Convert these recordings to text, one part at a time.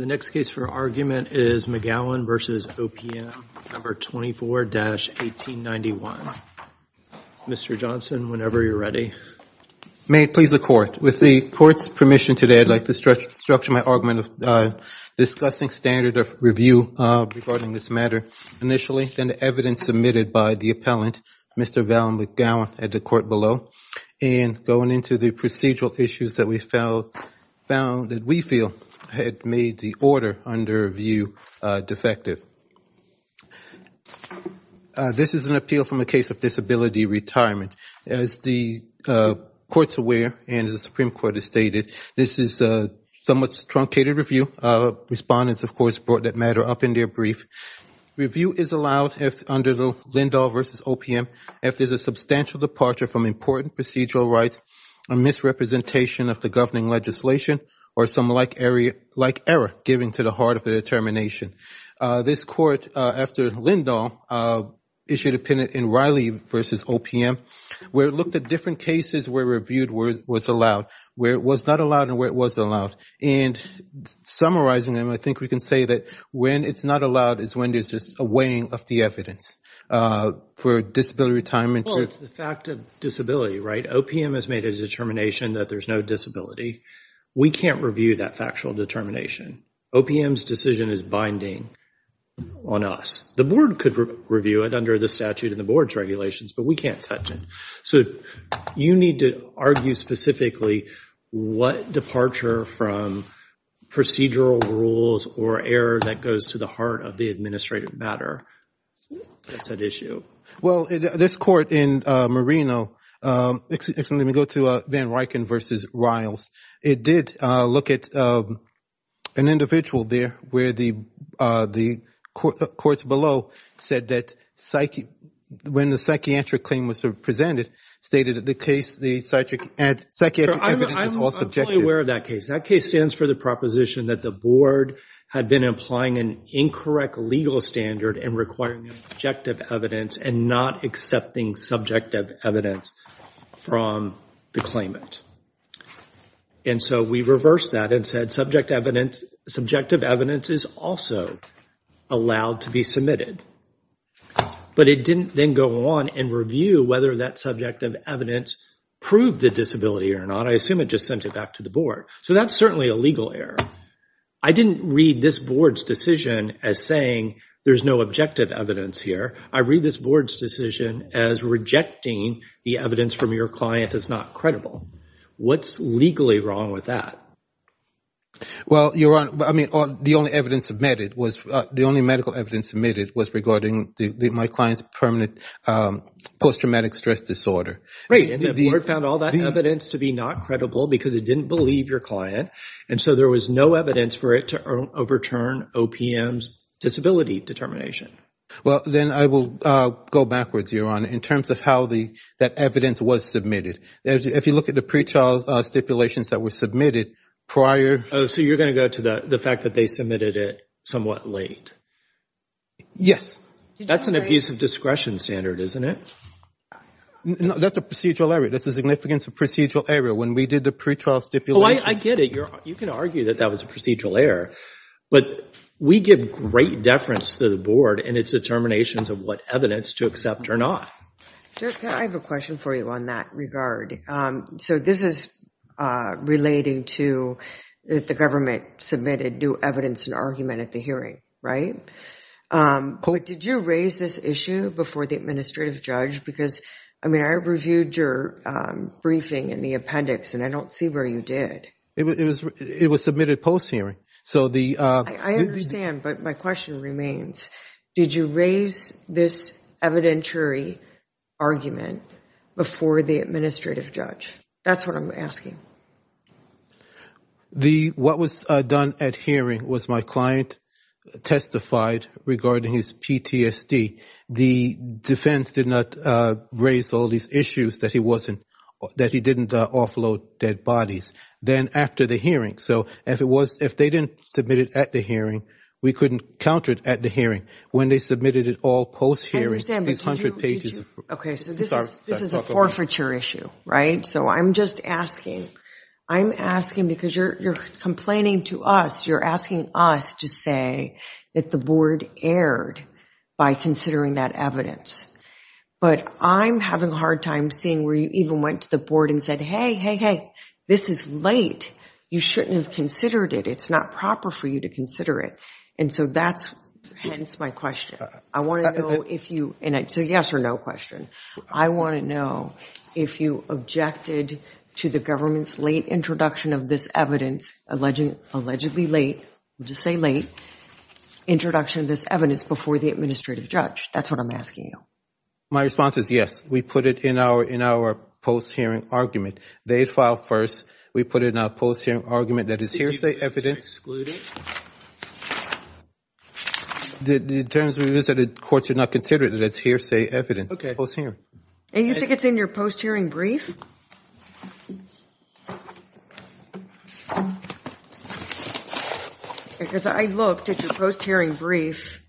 The next case for argument is McGowan v. OPM, No. 24-1891. Mr. Johnson, whenever you're ready. May it please the Court. With the Court's permission today, I'd like to structure my argument of discussing standard of review regarding this matter initially, then the evidence submitted by the appellant, Mr. Val McGowan, at the Court below, and going into the procedural issues that we found that we feel had made the order under review defective. This is an appeal from a case of disability retirement. As the Court's aware, and as the Supreme Court has stated, this is a somewhat truncated review. Respondents of course brought that matter up in their brief. Review is allowed under Lindahl v. OPM if there's a substantial departure from important procedural rights, a misrepresentation of the governing legislation, or some like error given to the heart of the determination. This Court, after Lindahl, issued an opinion in Riley v. OPM where it looked at different cases where review was allowed, where it was not allowed, and where it was allowed. And summarizing them, I think we can say that when it's not allowed is when there's just a weighing of the evidence for disability retirement. Well, it's the fact of disability, right? OPM has made a determination that there's no disability. We can't review that factual determination. OPM's decision is binding on us. The Board could review it under the statute in the Board's regulations, but we can't touch it. So you need to argue specifically what departure from procedural rules or error that goes to the heart of the administrative matter that's at issue. Well, this Court in Marino, let me go to Van Rycken v. Riles. It did look at an individual there where the courts below said that when the psychiatric claim was presented, stated that the case, the psychiatric evidence was all subjective. I'm fully aware of that case. That case stands for the proposition that the Board had been implying an incorrect legal standard and requiring objective evidence and not accepting subjective evidence from the claimant. And so we reversed that and said subjective evidence is also allowed to be submitted. But it didn't then go on and review whether that subjective evidence proved the disability or not. I assume it just sent it back to the Board. So that's certainly a legal error. I didn't read this Board's decision as saying there's no objective evidence here. I read this Board's decision as rejecting the evidence from your client as not credible. What's legally wrong with that? Well, Your Honor, I mean, the only evidence submitted was, the only medical evidence submitted was regarding my client's permanent post-traumatic stress disorder. Right, and the Board found all that evidence to be not credible because it didn't believe your client. And so there was no evidence for it to overturn OPM's disability determination. Well, then I will go backwards, Your Honor, in terms of how that evidence was submitted. If you look at the pretrial stipulations that were submitted prior. Oh, so you're going to go to the fact that they submitted it somewhat late. Yes. That's an abuse of discretion standard, isn't it? No, that's a procedural error. That's the significance of procedural error. When we did the pretrial stipulations. Oh, I get it. You can argue that that was a procedural error. But we give great deference to the Board and its determinations of what evidence to accept or not. Judge, I have a question for you on that regard. So this is relating to the government submitted new evidence and argument at the hearing, right? But did you raise this issue before the administrative judge? Because, I mean, I reviewed your briefing in the appendix and I don't see where you did. It was submitted post-hearing. So the- I understand, but my question remains. Did you raise this evidentiary argument before the administrative judge? That's what I'm asking. What was done at hearing was my client testified regarding his PTSD. The defense did not raise all these issues that he didn't offload dead bodies. Then after the hearing. So if they didn't submit it at the hearing, we couldn't counter it at the hearing. When they submitted it all post-hearing, these hundred pages of- I understand, but did you- Okay, so this is a forfeiture issue, right? So I'm just asking. I'm asking because you're complaining to us. You're asking us to say that the board erred by considering that evidence. But I'm having a hard time seeing where you even went to the board and said, hey, hey, hey, this is late. You shouldn't have considered it. It's not proper for you to consider it. And so that's hence my question. I want to know if you- and it's a yes or no question. I want to know if you objected to the government's late introduction of this evidence, allegedly late, I'll just say late, introduction of this evidence before the administrative judge. That's what I'm asking you. My response is yes. We put it in our post-hearing argument. They filed first. We put it in our post-hearing argument that it's hearsay evidence. The terms we visited courts did not consider it that it's hearsay evidence. Okay. Post-hearing. And you think it's in your post-hearing brief? Because I looked at your post-hearing brief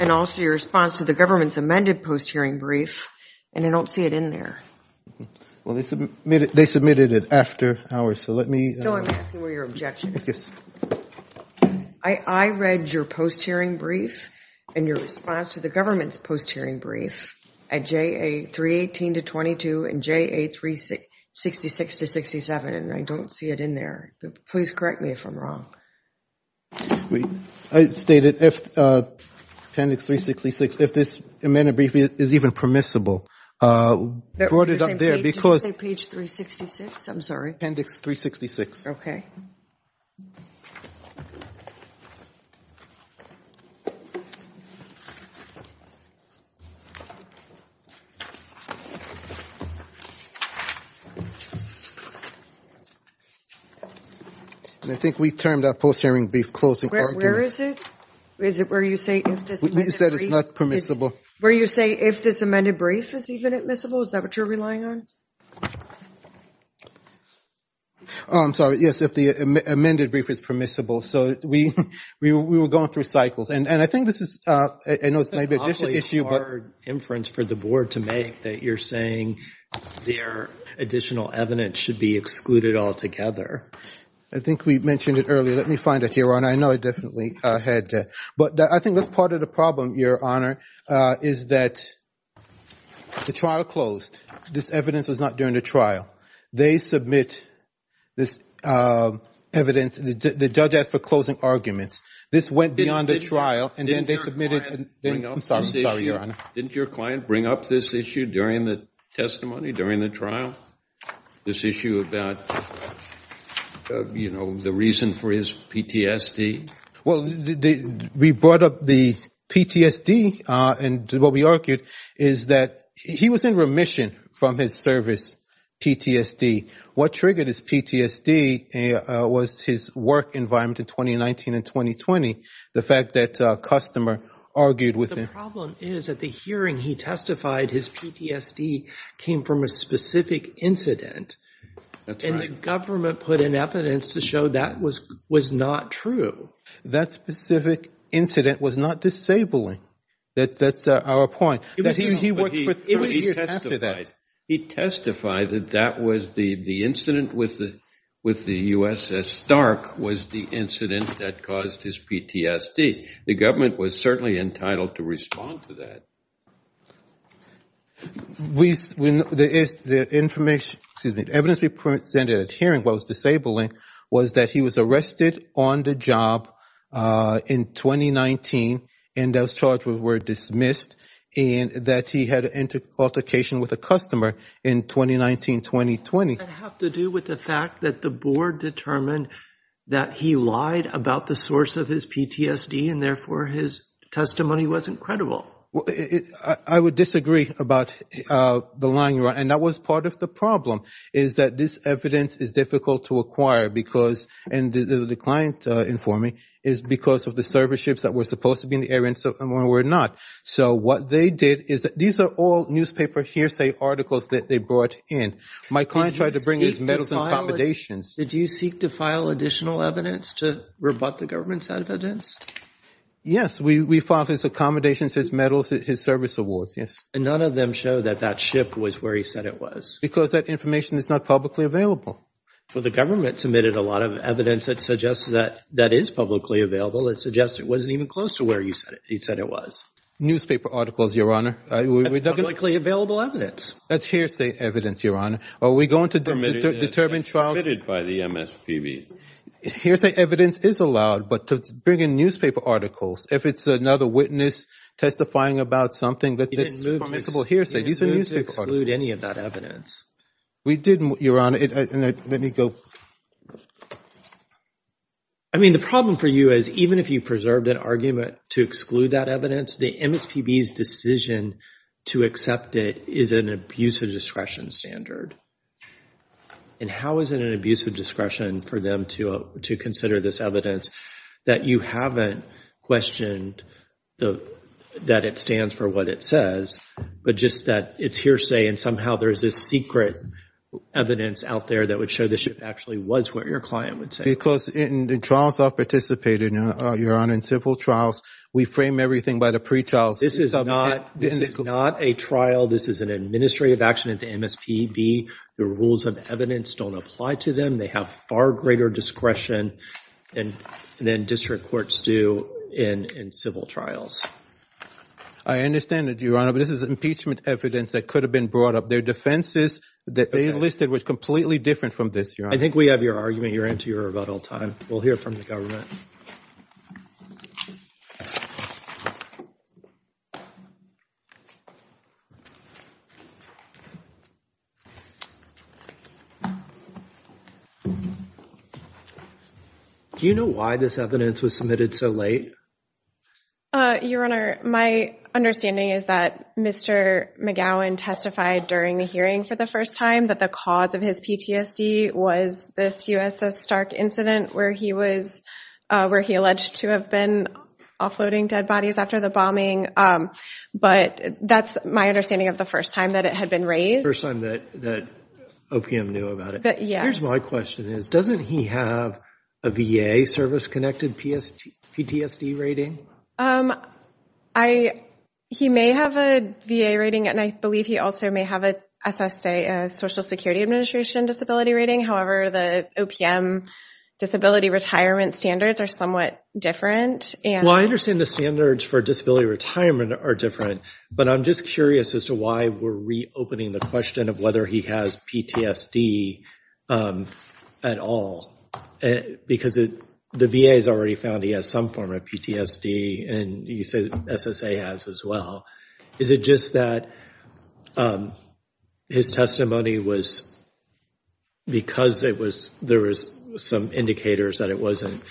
and also your response to the government's amended post-hearing brief, and I don't see it in there. Well, they submitted it after ours, so let me- No, I'm asking what your objection is. I read your post-hearing brief and your response to the government's post-hearing brief at J.A. 318-22 and J.A. 366-67, and I don't see it in there. Please correct me if I'm wrong. I stated if appendix 366, if this amended brief is even permissible, brought it up there because- Did you say page 366? I'm sorry. Appendix 366. Okay. And I think we termed our post-hearing brief closing argument- Where is it? Is it where you say if this amended brief- You said it's not permissible. Where you say if this amended brief is even admissible, is that what you're relying on? Oh, I'm sorry, yes, if the amended brief is permissible. So we were going through cycles, and I think this is, I know it's maybe an additional issue- I think we mentioned it earlier. Let me find it, Your Honor. I know I definitely had to. But I think that's part of the problem, Your Honor, is that the trial closed. This evidence was not during the trial. They submit this evidence. The judge asked for closing arguments. This went beyond the trial, and then they submitted- Didn't your client bring up this issue? During the testimony, during the trial? This issue about, you know, the reason for his PTSD? Well, we brought up the PTSD, and what we argued is that he was in remission from his service PTSD. What triggered his PTSD was his work environment in 2019 and 2020. The fact that a customer argued with him- That PTSD came from a specific incident, and the government put in evidence to show that was not true. That specific incident was not disabling. That's our point. He worked for three years after that. He testified that that was the incident with the USS Stark was the incident that caused his PTSD. The government was certainly entitled to respond to that. We- When the information- Excuse me. Evidence we presented at hearing what was disabling was that he was arrested on the job in 2019, and those charges were dismissed, and that he had an altercation with a customer in 2019-2020. Does that have to do with the fact that the board determined that he lied about the source of his PTSD, and therefore, his testimony wasn't credible? I would disagree about the line you're on, and that was part of the problem is that this evidence is difficult to acquire because- And the client informing is because of the serviceships that were supposed to be in the area, and some of them were not. So what they did is that- These are all newspaper hearsay articles that they brought in. My client tried to bring his medals and accommodations. Did you seek to file additional evidence to rebut the government's evidence? Yes. We filed his accommodations, his medals, his service awards. Yes. And none of them show that that ship was where he said it was? Because that information is not publicly available. Well, the government submitted a lot of evidence that suggests that that is publicly available. It suggests it wasn't even close to where he said it was. Newspaper articles, Your Honor. That's publicly available evidence. That's hearsay evidence, Your Honor. Are we going to determine trials- Permitted by the MSPB. Hearsay evidence is allowed, but to bring in newspaper articles, if it's another witness testifying about something that's permissible hearsay, these are newspaper articles. You didn't move to exclude any of that evidence. We didn't, Your Honor. Let me go- I mean, the problem for you is even if you preserved an argument to exclude that evidence, the MSPB's decision to accept it is an abuse of discretion standard. And how is it an abuse of discretion for them to consider this evidence that you haven't questioned that it stands for what it says, but just that it's hearsay and somehow there's this secret evidence out there that would show the ship actually was where your client would say it was? Because in the trials I've participated in, Your Honor, in civil trials, we frame everything by the pretrial- This is not a trial. This is an administrative action at the MSPB. The rules of evidence don't apply to them. They have far greater discretion than district courts do in civil trials. I understand that, Your Honor, but this is impeachment evidence that could have been brought up. Their defenses that they enlisted was completely different from this, Your Honor. I think we have your argument. You're into your rebuttal time. We'll hear from the government. Do you know why this evidence was submitted so late? Your Honor, my understanding is that Mr. McGowan testified during the hearing for the first time that the cause of his PTSD was this USS Stark incident where he alleged to have been offloading dead bodies after the bombing, but that's my understanding of the first time that it had been raised. The first time that OPM knew about it. Yes. Here's my question is, doesn't he have a VA service-connected PTSD rating? He may have a VA rating, and I believe he also may have a SSA, a Social Security Administration disability rating. However, the OPM disability retirement standards are somewhat different. Well, I understand the standards for disability retirement are different, but I'm just curious as to why we're reopening the question of whether he has PTSD at all because the VA has already found he has some form of PTSD, and you said SSA has as well. Is it just that his testimony was because there was some indicators that it wasn't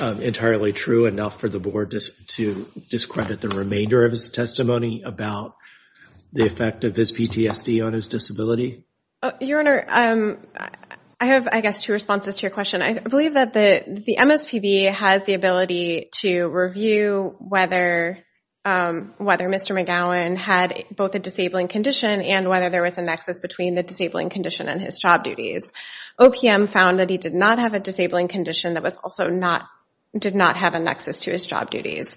entirely true enough for the board to discredit the remainder of his testimony about the effect of his PTSD on his disability? Your Honor, I have, I guess, two responses to your question. I believe that the MSPB has the ability to review whether Mr. McGowan had both a disabling condition and whether there was a nexus between the disabling condition and his job duties. OPM found that he did not have a disabling condition that also did not have a nexus to his job duties.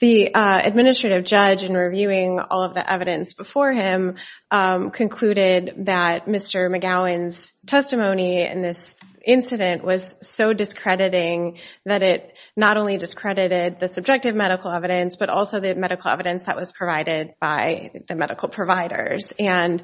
The administrative judge, in reviewing all of the evidence before him, concluded that Mr. McGowan's testimony in this incident was so discrediting that it not only discredited the subjective medical evidence but also the medical evidence that was provided by the medical providers. In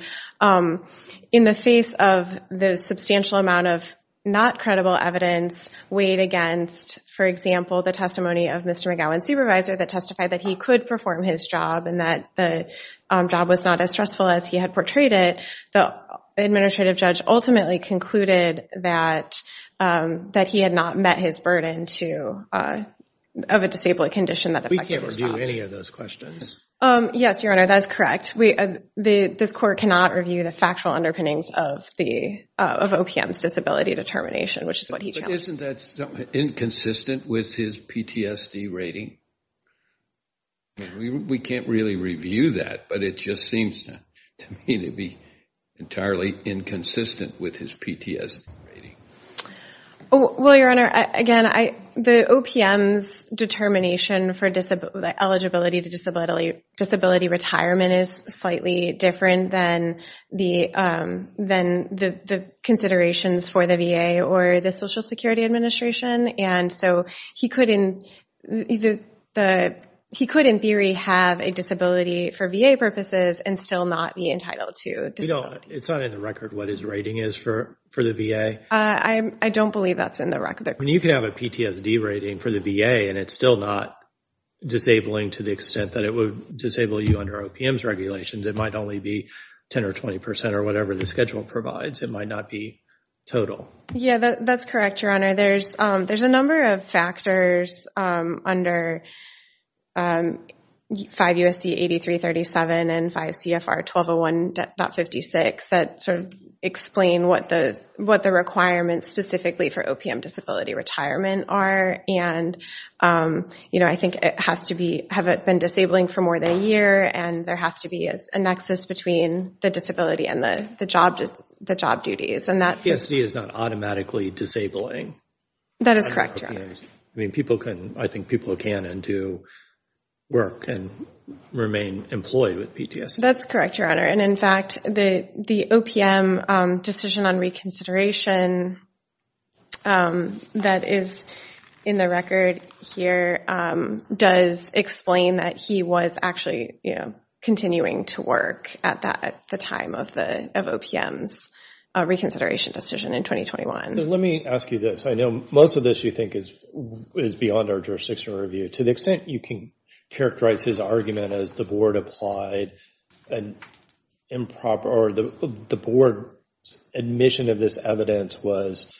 the face of the substantial amount of not credible evidence weighed against, for example, the testimony of Mr. McGowan's supervisor that testified that he could perform his job and that the job was not as stressful as he had portrayed it, the administrative judge ultimately concluded that he had not met his burden of a disabling condition that affected We can't review any of those questions. Yes, Your Honor, that is correct. This court cannot review the factual underpinnings of OPM's disability determination, which is what he challenged. But isn't that inconsistent with his PTSD rating? We can't really review that, but it just seems to me to be entirely inconsistent with his PTSD rating. Well, Your Honor, again, the OPM's determination for the eligibility to disability retirement is slightly different than the considerations for the VA or the Social Security Administration. And so he could, in theory, have a disability for VA purposes and still not be entitled to disability. It's not in the record what his rating is for the VA? I don't believe that's in the record. You can have a PTSD rating for the VA and it's still not disabling to the extent that it would disable you under OPM's regulations. It might only be 10% or 20% or whatever the schedule provides. It might not be total. Yeah, that's correct, Your Honor. There's a number of factors under 5 U.S.C. 8337 and 5 C.F.R. 1201.56 that sort of explain what the requirements specifically for OPM disability retirement are. And I think it has to be, have it been disabling for more than a year? And there has to be a nexus between the disability and the job duties. PTSD is not automatically disabling. That is correct, Your Honor. I mean, people can, I think people can and do work and remain employed with PTSD. That's correct, Your Honor. And in fact, the OPM decision on reconsideration that is in the record here does explain that he was actually, you know, continuing to work at that, at the time of the, of OPM's reconsideration decision in 2021. Let me ask you this. I know most of this you think is beyond our jurisdiction review. To the extent you can characterize his argument as the board applied an improper or the board's admission of this evidence was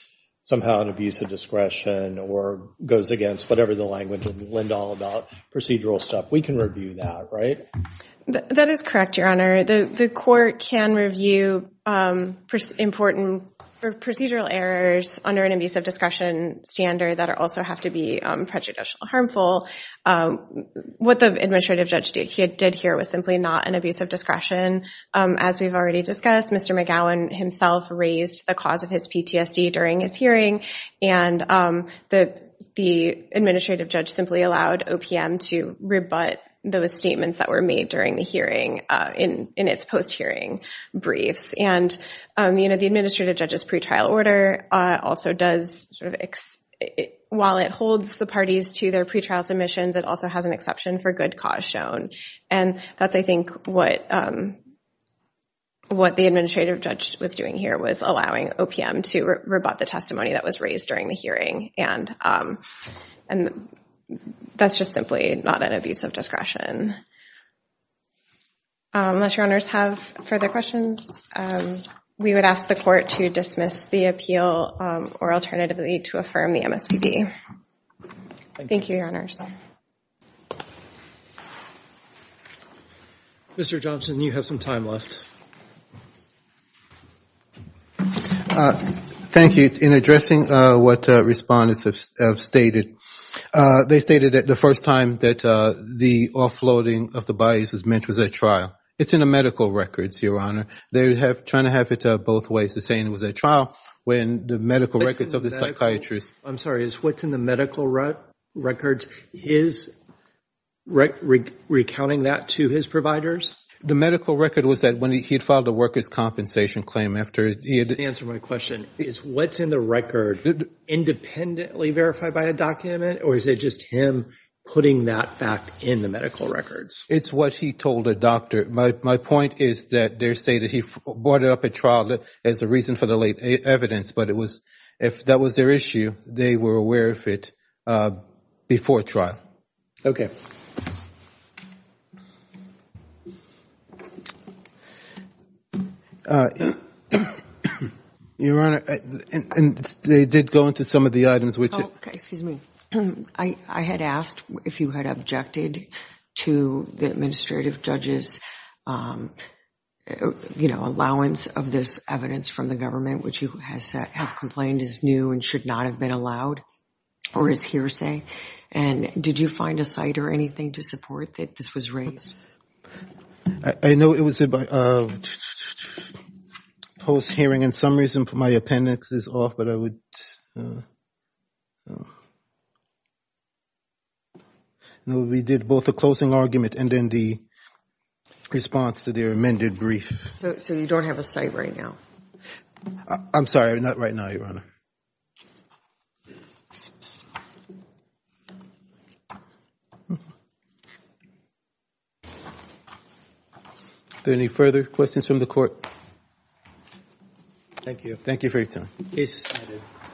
somehow an abuse of discretion or goes against whatever the language of Lindahl about procedural stuff. We can review that, right? That is correct, Your Honor. The court can review important procedural errors under an abuse of discretion standard that also have to be prejudicial or harmful. What the administrative judge did here was simply not an abuse of discretion. As we've already discussed, Mr. McGowan himself raised the cause of his PTSD during his hearing and the administrative judge simply allowed OPM to rebut those statements that were made during the hearing in its post-hearing briefs. And you know, the administrative judge's pretrial order also does sort of, while it holds the parties to their pretrial submissions, it also has an exception for good cause shown. And that's, I think, what the administrative judge was doing here was allowing OPM to rebut the testimony that was raised during the hearing. And that's just simply not an abuse of discretion. Unless Your Honors have further questions, we would ask the court to dismiss the appeal or alternatively to affirm the MSPB. Thank you, Your Honors. Mr. Johnson, you have some time left. Thank you. In addressing what respondents have stated, they stated that the first time that the offloading of the bodies was meant was at trial. It's in the medical records, Your Honor. They're trying to have it both ways, to say it was at trial when the medical records of the psychiatrist. I'm sorry. What's in the medical records? His recounting that to his providers? The medical record was that when he had filed a workers' compensation claim after he had the... To answer my question, is what's in the record independently verified by a document? Or is it just him putting that fact in the medical records? It's what he told a doctor. My point is that they're saying that he brought it up at trial as a reason for the late evidence. But it was, if that was their issue, they were aware of it before trial. Okay. Your Honor, and they did go into some of the items, which... Oh, okay. Excuse me. I had asked if you had objected to the administrative judge's allowance of this evidence from the government, which you have complained is new and should not have been allowed, or his hearsay. And did you find a site or anything to support that this was raised? I know it was a post-hearing, and for some reason, my appendix is off, but I would... No, we did both the closing argument and then the response to their amended brief. So, you don't have a site right now? I'm sorry. Not right now, Your Honor. Is there any further questions from the court? Thank you. Thank you for your time. Yes, Your Honor.